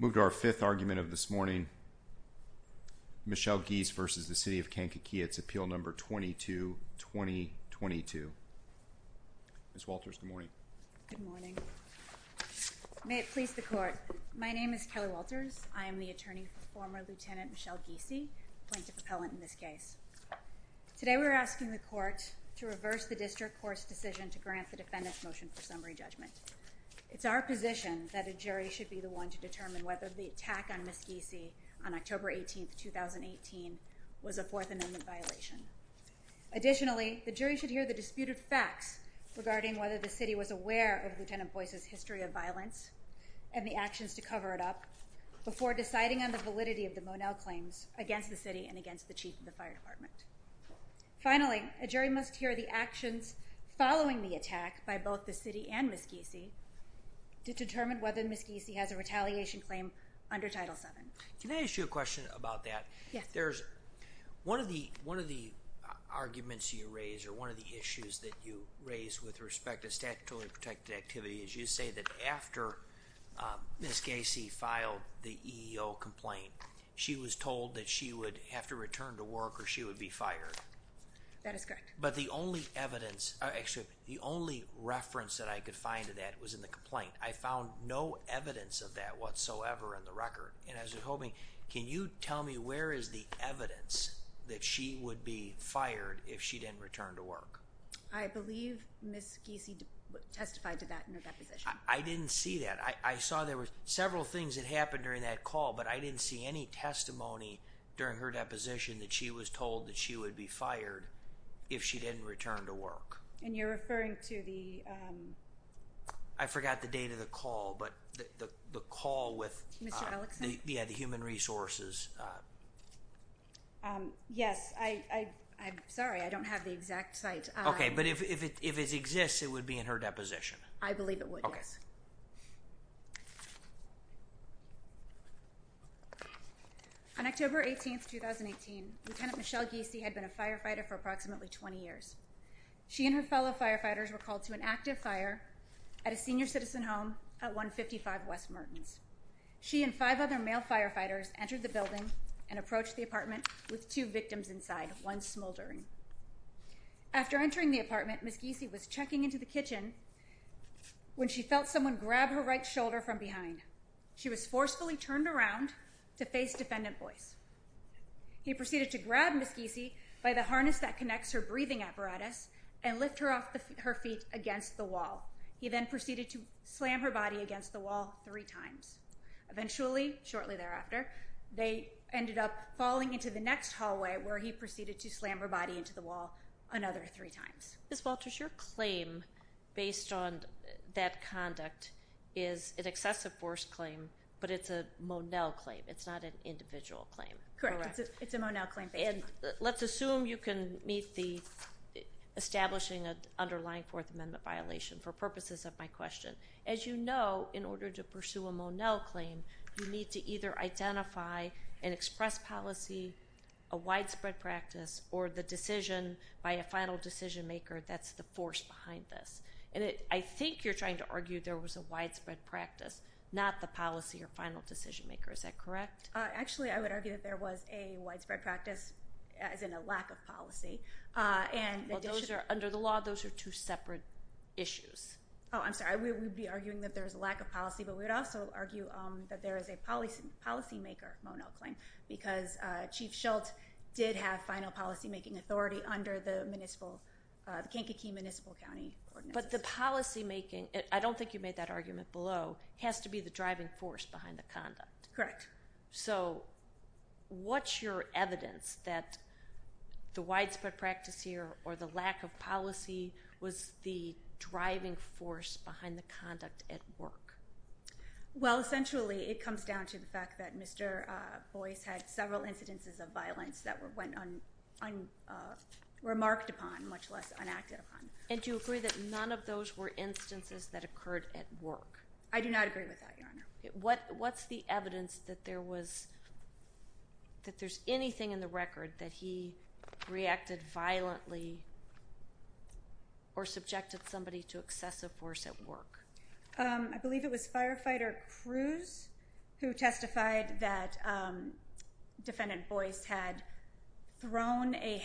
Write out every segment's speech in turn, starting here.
Move to our fifth argument of this morning. Michelle Giese v. City of Kankakee. It's appeal number 22-2022. Ms. Walters, good morning. Good morning. May it please the court. My name is Kelly Walters. I am the attorney for former Lieutenant Michelle Giese, plaintiff appellant in this case. Today we are asking the court to reverse the district court's decision to grant the defendant's motion for summary judgment. It's our position that a jury should be the one to determine whether the attack on Ms. Giese on October 18, 2018, was a Fourth Amendment violation. Additionally, the jury should hear the disputed facts regarding whether the city was aware of Lieutenant Boyce's history of violence and the actions to cover it up before deciding on the validity of the Monell claims against the city and against the chief of the fire department. Finally, a jury must hear the actions following the attack by both the city and Ms. Giese to determine whether Ms. Giese has a retaliation claim under Title VII. Can I ask you a question about that? Yes. One of the arguments you raise or one of the issues that you raise with respect to statutorily protected activity is you say that after Ms. Giese filed the EEO complaint, she was told that she would have to return to work or she would be fired. That is correct. But the only reference that I could find to that was in the complaint. I found no evidence of that whatsoever in the record. Can you tell me where is the evidence that she would be fired if she didn't return to work? I believe Ms. Giese testified to that in her deposition. I didn't see that. I saw there were several things that happened during that call, but I didn't see any testimony during her deposition that she was told that she would be fired if she didn't return to work. And you're referring to the… I forgot the date of the call, but the call with… Mr. Ellickson? Yeah, the human resources… Yes, I'm sorry. I don't have the exact site. Okay, but if it exists, it would be in her deposition. I believe it would, yes. Okay. On October 18, 2018, Lieutenant Michelle Giese had been a firefighter for approximately 20 years. She and her fellow firefighters were called to an active fire at a senior citizen home at 155 West Mertens. She and five other male firefighters entered the building and approached the apartment with two victims inside, one smoldering. After entering the apartment, Ms. Giese was checking into the kitchen when she felt someone grab her right shoulder from behind. She was forcefully turned around to face defendant Boyce. He proceeded to grab Ms. Giese by the harness that connects her breathing apparatus and lift her off her feet against the wall. He then proceeded to slam her body against the wall three times. Eventually, shortly thereafter, they ended up falling into the next hallway where he proceeded to slam her body into the wall another three times. Ms. Walters, your claim based on that conduct is an excessive force claim, but it's a Monell claim. It's not an individual claim. Correct. It's a Monell claim. And let's assume you can meet the establishing an underlying Fourth Amendment violation for purposes of my question. As you know, in order to pursue a Monell claim, you need to either identify and express policy, a widespread practice, or the decision by a final decision maker that's the force behind this. And I think you're trying to argue there was a widespread practice, not the policy or final decision maker. Is that correct? Actually, I would argue that there was a widespread practice, as in a lack of policy. Well, under the law, those are two separate issues. Oh, I'm sorry. We would be arguing that there's a lack of policy, but we would also argue that there is a policymaker Monell claim because Chief Schultz did have final policymaking authority under the Kankakee Municipal County Ordinance. But the policymaking, I don't think you made that argument below, has to be the driving force behind the conduct. Correct. So what's your evidence that the widespread practice here or the lack of policy was the driving force behind the conduct at work? Well, essentially, it comes down to the fact that Mr. Boyce had several incidences of violence that were remarked upon, much less enacted upon. And do you agree that none of those were instances that occurred at work? I do not agree with that, Your Honor. What's the evidence that there's anything in the record that he reacted violently or subjected somebody to excessive force at work? I believe it was Firefighter Cruz who testified that Defendant Boyce had thrown a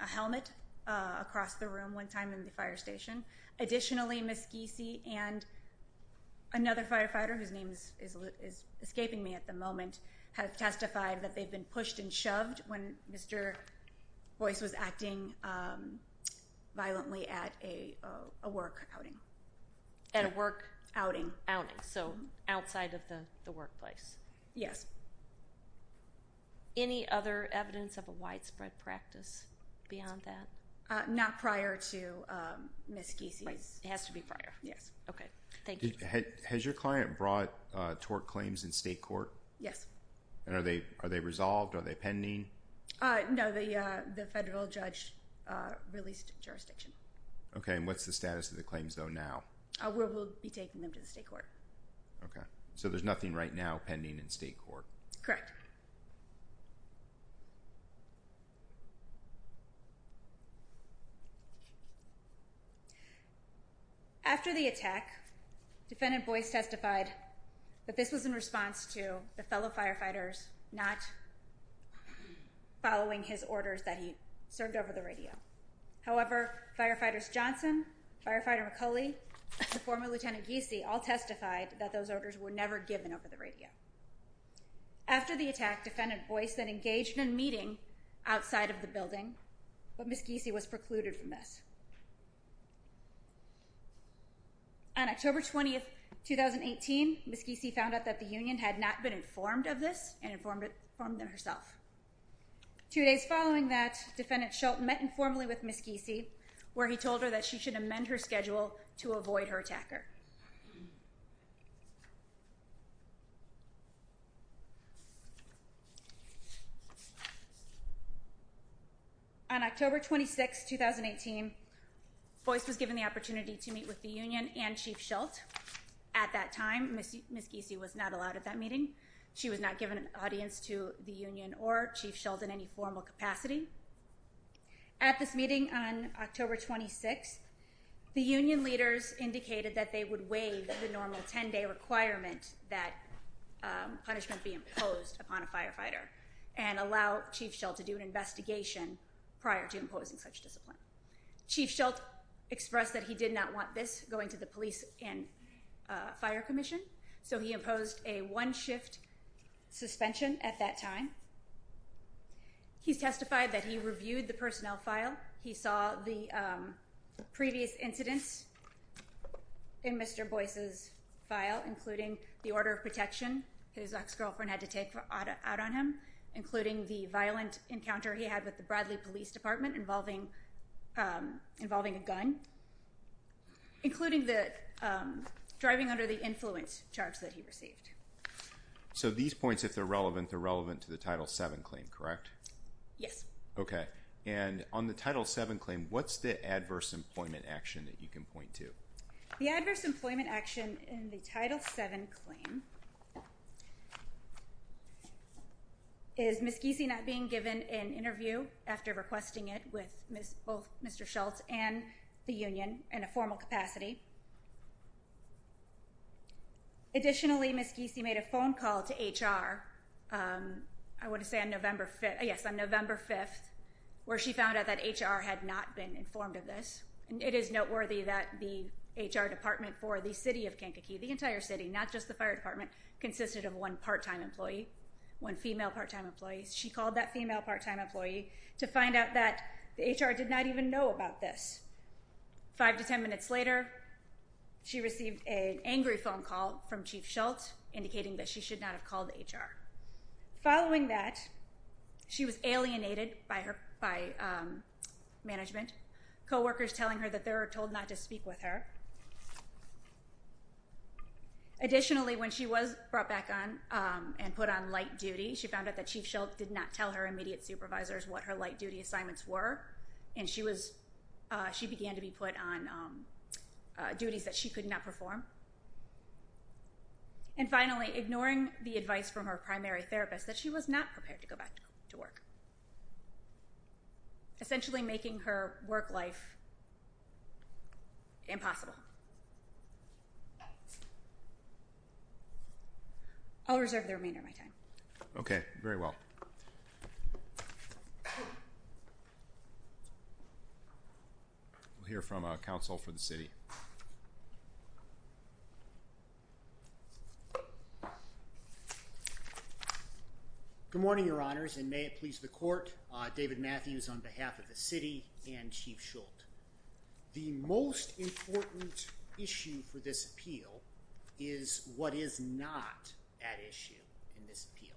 helmet across the room one time in the fire station. Additionally, Ms. Giese and another firefighter, whose name is escaping me at the moment, have testified that they've been pushed and shoved when Mr. Boyce was acting violently at a work outing. At a work outing. Outing, so outside of the workplace. Yes. Any other evidence of a widespread practice beyond that? Not prior to Ms. Giese's. It has to be prior, yes. Okay. Thank you. Has your client brought tort claims in state court? Yes. And are they resolved? Are they pending? No, the federal judge released jurisdiction. Okay, and what's the status of the claims, though, now? We'll be taking them to the state court. Okay. So there's nothing right now pending in state court? Correct. After the attack, Defendant Boyce testified that this was in response to the fellow firefighters not following his orders that he served over the radio. However, Firefighters Johnson, Firefighter McCauley, and former Lieutenant Giese all testified that those orders were never given over the radio. After the attack, Defendant Boyce then engaged in a meeting outside of the building, but Ms. Giese was precluded from this. On October 20, 2018, Ms. Giese found out that the union had not been informed of this and informed it herself. Two days following that, Defendant Shult met informally with Ms. Giese, where he told her that she should amend her schedule to avoid her attacker. On October 26, 2018, Boyce was given the opportunity to meet with the union and Chief Shult. At that time, Ms. Giese was not allowed at that meeting. She was not given an audience to the union or Chief Shult in any formal capacity. At this meeting on October 26, the union leaders indicated that they would waive the normal 10-day requirement that punishment be imposed upon a firefighter and allow Chief Shult to do an investigation prior to imposing such discipline. Chief Shult expressed that he did not want this going to the Police and Fire Commission, so he imposed a one-shift suspension at that time. He testified that he reviewed the personnel file. He saw the previous incidents in Mr. Boyce's file, including the order of protection his ex-girlfriend had to take out on him, including the violent encounter he had with the Bradley Police Department involving a gun, including driving under the influence charge that he received. So these points, if they're relevant, they're relevant to the Title VII claim, correct? Yes. Okay. And on the Title VII claim, what's the adverse employment action that you can point to? The adverse employment action in the Title VII claim is Ms. Giese not being given an interview after requesting it with both Mr. Shult and the union in a formal capacity. Additionally, Ms. Giese made a phone call to HR, I want to say on November 5th, where she found out that HR had not been informed of this. It is noteworthy that the HR department for the city of Kankakee, the entire city, not just the Fire Department, consisted of one part-time employee, one female part-time employee. She called that female part-time employee to find out that the HR did not even know about this. Five to ten minutes later, she received an angry phone call from Chief Shult, indicating that she should not have called HR. Following that, she was alienated by management, coworkers telling her that they were told not to speak with her. Additionally, when she was brought back on and put on light duty, she found out that Chief Shult did not tell her immediate supervisors what her light duty assignments were, and she began to be put on duties that she could not perform. And finally, ignoring the advice from her primary therapist that she was not prepared to go back to work, essentially making her work life impossible. I'll reserve the remainder of my time. Okay, very well. We'll hear from a counsel for the city. Good morning, Your Honors, and may it please the court, David Matthews on behalf of the city and Chief Shult. The most important issue for this appeal is what is not at issue in this appeal.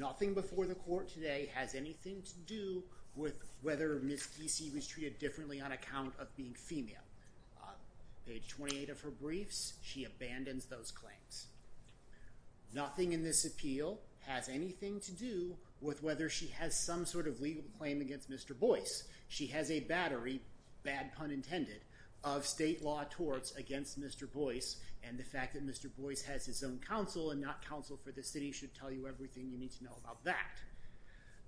Nothing before the court today has anything to do with whether Ms. Kesey was treated differently on account of being female. Page 28 of her briefs, she abandons those claims. Nothing in this appeal has anything to do with whether she has some sort of legal claim against Mr. Boyce. She has a battery, bad pun intended, of state law torts against Mr. Boyce, and the fact that Mr. Boyce has his own counsel and not counsel for the city should tell you everything you need to know about that.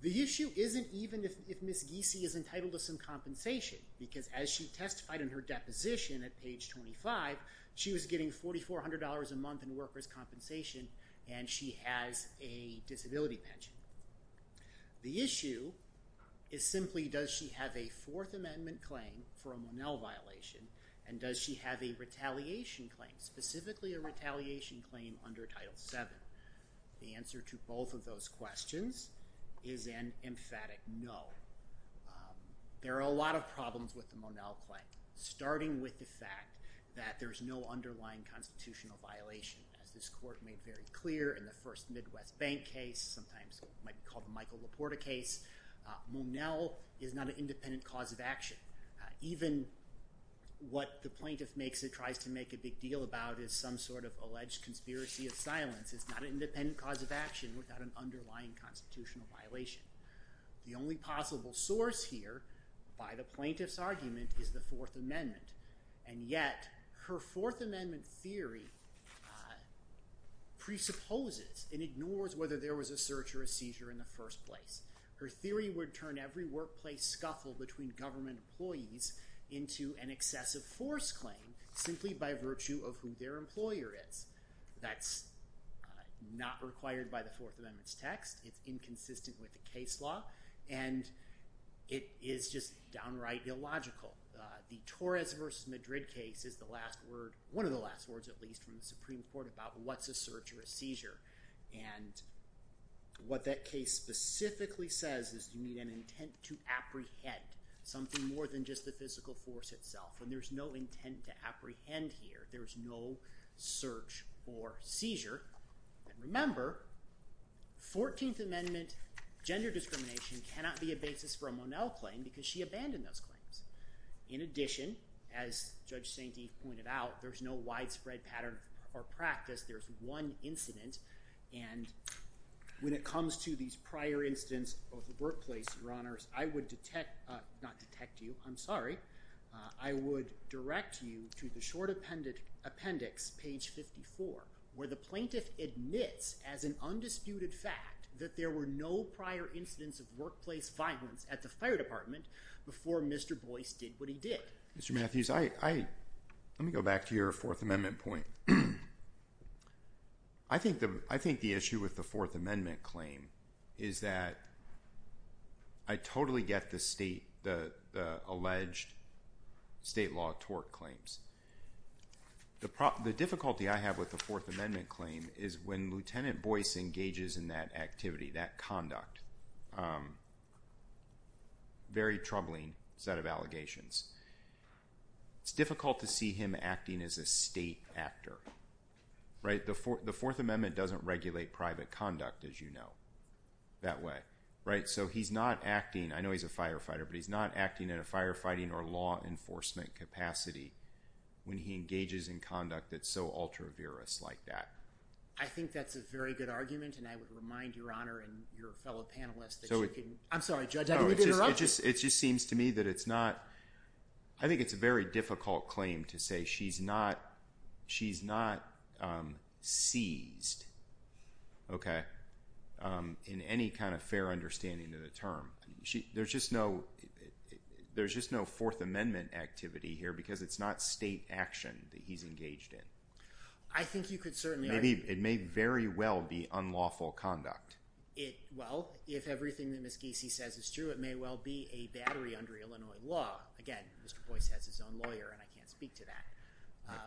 The issue isn't even if Ms. Kesey is entitled to some compensation, because as she testified in her deposition at page 25, she was getting $4,400 a month in workers' compensation, and she has a disability pension. The issue is simply does she have a Fourth Amendment claim for a Monell violation, and does she have a retaliation claim, specifically a retaliation claim under Title VII? The answer to both of those questions is an emphatic no. There are a lot of problems with the Monell claim, starting with the fact that there is no underlying constitutional violation. As this court made very clear in the first Midwest Bank case, sometimes it might be called the Michael LaPorta case, Monell is not an independent cause of action. Even what the plaintiff makes or tries to make a big deal about is some sort of alleged conspiracy of silence. It's not an independent cause of action without an underlying constitutional violation. The only possible source here by the plaintiff's argument is the Fourth Amendment, and yet her Fourth Amendment theory presupposes and ignores whether there was a search or a seizure in the first place. Her theory would turn every workplace scuffle between government employees into an excessive force claim simply by virtue of who their employer is. That's not required by the Fourth Amendment's text. It's inconsistent with the case law, and it is just downright illogical. The Torres v. Madrid case is one of the last words, at least, from the Supreme Court about what's a search or a seizure. What that case specifically says is you need an intent to apprehend something more than just the physical force itself, and there's no intent to apprehend here. There's no search or seizure. Remember, Fourteenth Amendment gender discrimination cannot be a basis for a Monell claim because she abandoned those claims. In addition, as Judge Santee pointed out, there's no widespread pattern or practice. There's one incident, and when it comes to these prior incidents of the workplace, Your Honors, I would detect—not detect you, I'm sorry. I would direct you to the short appendix, page 54, where the plaintiff admits as an undisputed fact that there were no prior incidents of workplace violence at the fire department before Mr. Boyce did what he did. Mr. Matthews, let me go back to your Fourth Amendment point. I think the issue with the Fourth Amendment claim is that I totally get the alleged state law tort claims. The difficulty I have with the Fourth Amendment claim is when Lieutenant Boyce engages in that activity, that conduct, very troubling set of allegations. It's difficult to see him acting as a state actor, right? The Fourth Amendment doesn't regulate private conduct, as you know, that way, right? So he's not acting—I know he's a firefighter, but he's not acting in a firefighting or law enforcement capacity when he engages in conduct that's so ultra-virous like that. I think that's a very good argument, and I would remind Your Honor and your fellow panelists that you can— I'm sorry, Judge, I didn't mean to interrupt you. It just seems to me that it's not—I think it's a very difficult claim to say she's not seized, okay, in any kind of fair understanding of the term. There's just no Fourth Amendment activity here because it's not state action that he's engaged in. I think you could certainly— Maybe it may very well be unlawful conduct. Well, if everything that Ms. Giese says is true, it may well be a battery under Illinois law. Again, Mr. Boyce has his own lawyer, and I can't speak to that.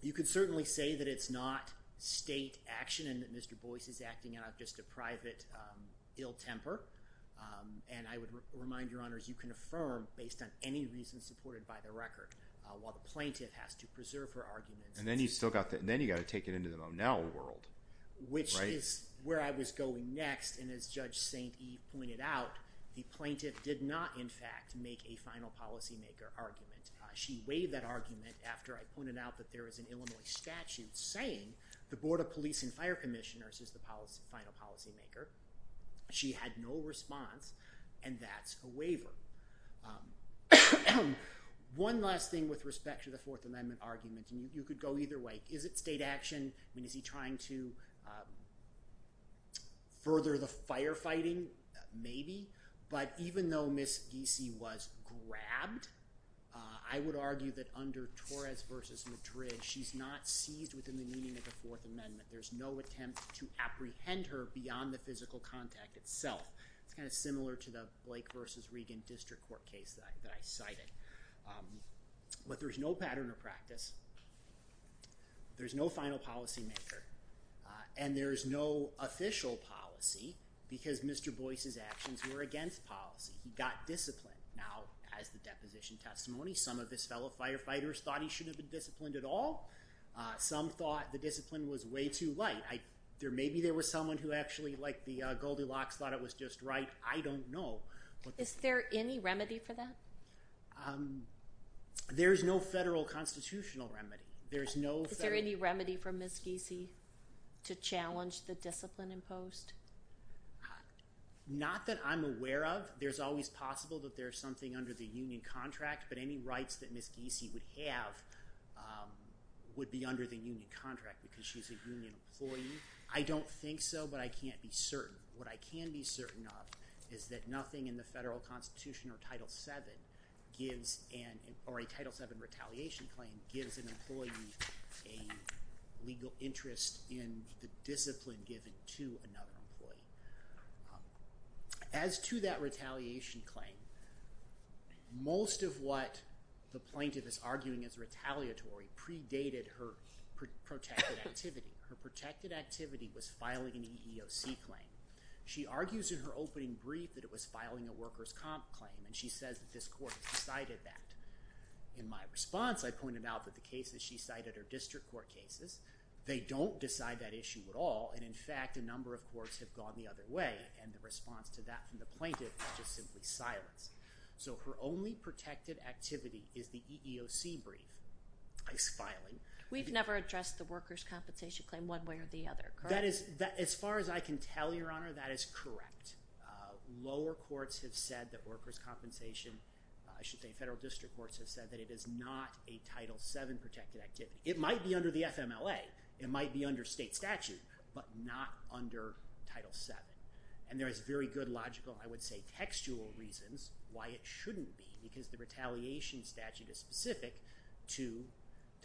You could certainly say that it's not state action and that Mr. Boyce is acting out of just a private ill temper, and I would remind Your Honors you can affirm based on any reason supported by the record. While the plaintiff has to preserve her arguments— And then you've still got—then you've got to take it into the Monel world, right? Which is where I was going next, and as Judge St. Eve pointed out, the plaintiff did not, in fact, make a final policymaker argument. She waived that argument after I pointed out that there is an Illinois statute saying the Board of Police and Fire Commissioners is the final policymaker. She had no response, and that's a waiver. One last thing with respect to the Fourth Amendment argument, and you could go either way. Is it state action? I mean, is he trying to further the firefighting? Maybe. But even though Ms. Giese was grabbed, I would argue that under Torres v. Madrid, she's not seized within the meaning of the Fourth Amendment. There's no attempt to apprehend her beyond the physical contact itself. It's kind of similar to the Blake v. Regan district court case that I cited. But there's no pattern or practice. There's no final policymaker, and there's no official policy because Mr. Boyce's actions were against policy. He got discipline. Now, as the deposition testimony, some of his fellow firefighters thought he shouldn't have been disciplined at all. Some thought the discipline was way too light. Maybe there was someone who actually, like the Goldilocks, thought it was just right. I don't know. Is there any remedy for that? There is no federal constitutional remedy. Is there any remedy for Ms. Giese to challenge the discipline imposed? Not that I'm aware of. There's always possible that there's something under the union contract, but any rights that Ms. Giese would have would be under the union contract because she's a union employee. I don't think so, but I can't be certain. What I can be certain of is that nothing in the federal constitution or Title VII gives an employee a legal interest in the discipline given to another employee. As to that retaliation claim, most of what the plaintiff is arguing is retaliatory predated her protected activity. Her protected activity was filing an EEOC claim. She argues in her opening brief that it was filing a workers' comp claim, and she says that this court has decided that. In my response, I pointed out that the cases she cited are district court cases. They don't decide that issue at all, and in fact, a number of courts have gone the other way, and the response to that from the plaintiff is just simply silence. So her only protected activity is the EEOC brief. We've never addressed the workers' compensation claim one way or the other, correct? As far as I can tell, Your Honor, that is correct. Lower courts have said that workers' compensation, I should say federal district courts have said that it is not a Title VII protected activity. It might be under the FMLA. It might be under state statute, but not under Title VII, and there is very good logical, I would say textual reasons why it shouldn't be because the retaliation statute is specific to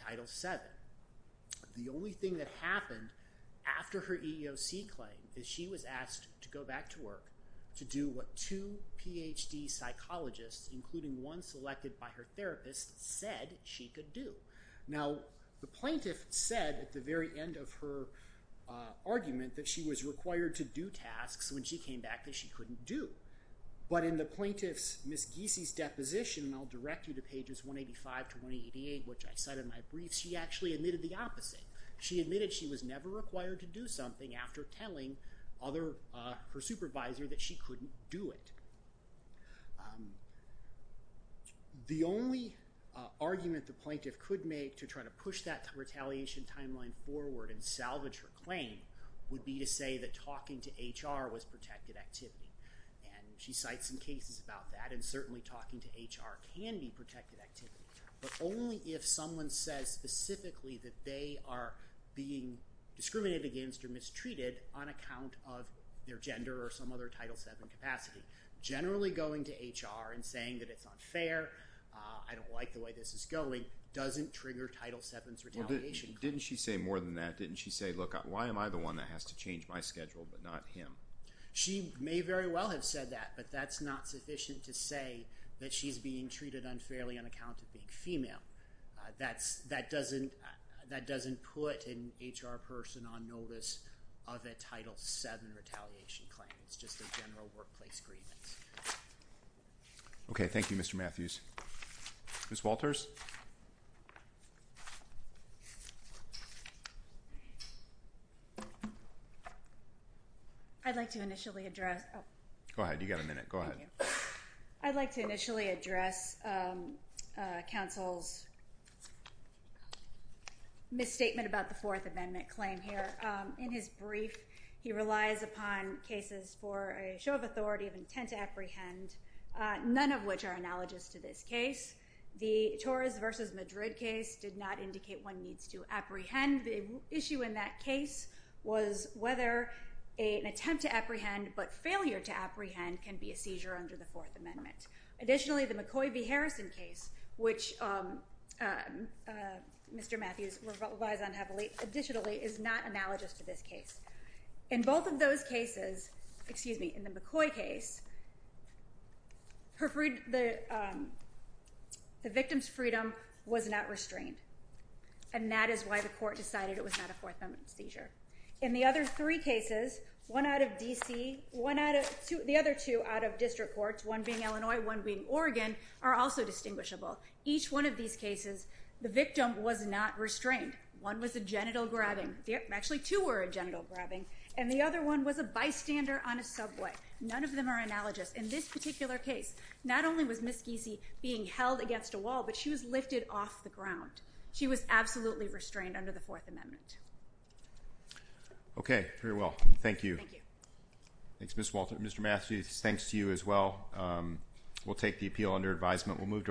Title VII. The only thing that happened after her EEOC claim is she was asked to go back to work to do what two PhD psychologists, including one selected by her therapist, said she could do. Now, the plaintiff said at the very end of her argument that she was required to do tasks when she came back that she couldn't do, but in the plaintiff's, Ms. Giese's, deposition, and I'll direct you to pages 185 to 188, which I cite in my brief, she actually admitted the opposite. She admitted she was never required to do something after telling her supervisor that she couldn't do it. The only argument the plaintiff could make to try to push that retaliation timeline forward and salvage her claim would be to say that talking to HR was protected activity, and she cites some cases about that, and certainly talking to HR can be protected activity, but only if someone says specifically that they are being discriminated against or mistreated on account of their gender or some other Title VII capacity. Generally, going to HR and saying that it's unfair, I don't like the way this is going, doesn't trigger Title VII's retaliation. Well, didn't she say more than that? Didn't she say, look, why am I the one that has to change my schedule but not him? She may very well have said that, but that's not sufficient to say that she's being treated unfairly on account of being female. That doesn't put an HR person on notice of a Title VII retaliation claim. It's just a general workplace grievance. Okay, thank you, Mr. Matthews. Ms. Walters? I'd like to initially address... Go ahead. You've got a minute. Go ahead. I'd like to initially address counsel's misstatement about the Fourth Amendment claim here. In his brief, he relies upon cases for a show of authority of intent to apprehend, none of which are analogous to this case. The Torres v. Madrid case did not indicate one needs to apprehend. The issue in that case was whether an attempt to apprehend but failure to apprehend can be a seizure under the Fourth Amendment. Additionally, the McCoy v. Harrison case, which Mr. Matthews relies on heavily, additionally, is not analogous to this case. In both of those cases, excuse me, in the McCoy case, the victim's freedom was not restrained. And that is why the court decided it was not a Fourth Amendment seizure. In the other three cases, one out of D.C., one out of... The other two out of district courts, one being Illinois, one being Oregon, are also distinguishable. Each one of these cases, the victim was not restrained. One was a genital grabbing. Actually, two were a genital grabbing. And the other one was a bystander on a subway. None of them are analogous. In this particular case, not only was Ms. Giese being held against a wall, but she was lifted off the ground. She was absolutely restrained under the Fourth Amendment. Okay. Very well. Thank you. Thank you. Thanks, Ms. Walter. Mr. Matthews, thanks to you as well. We'll take the appeal under advisement.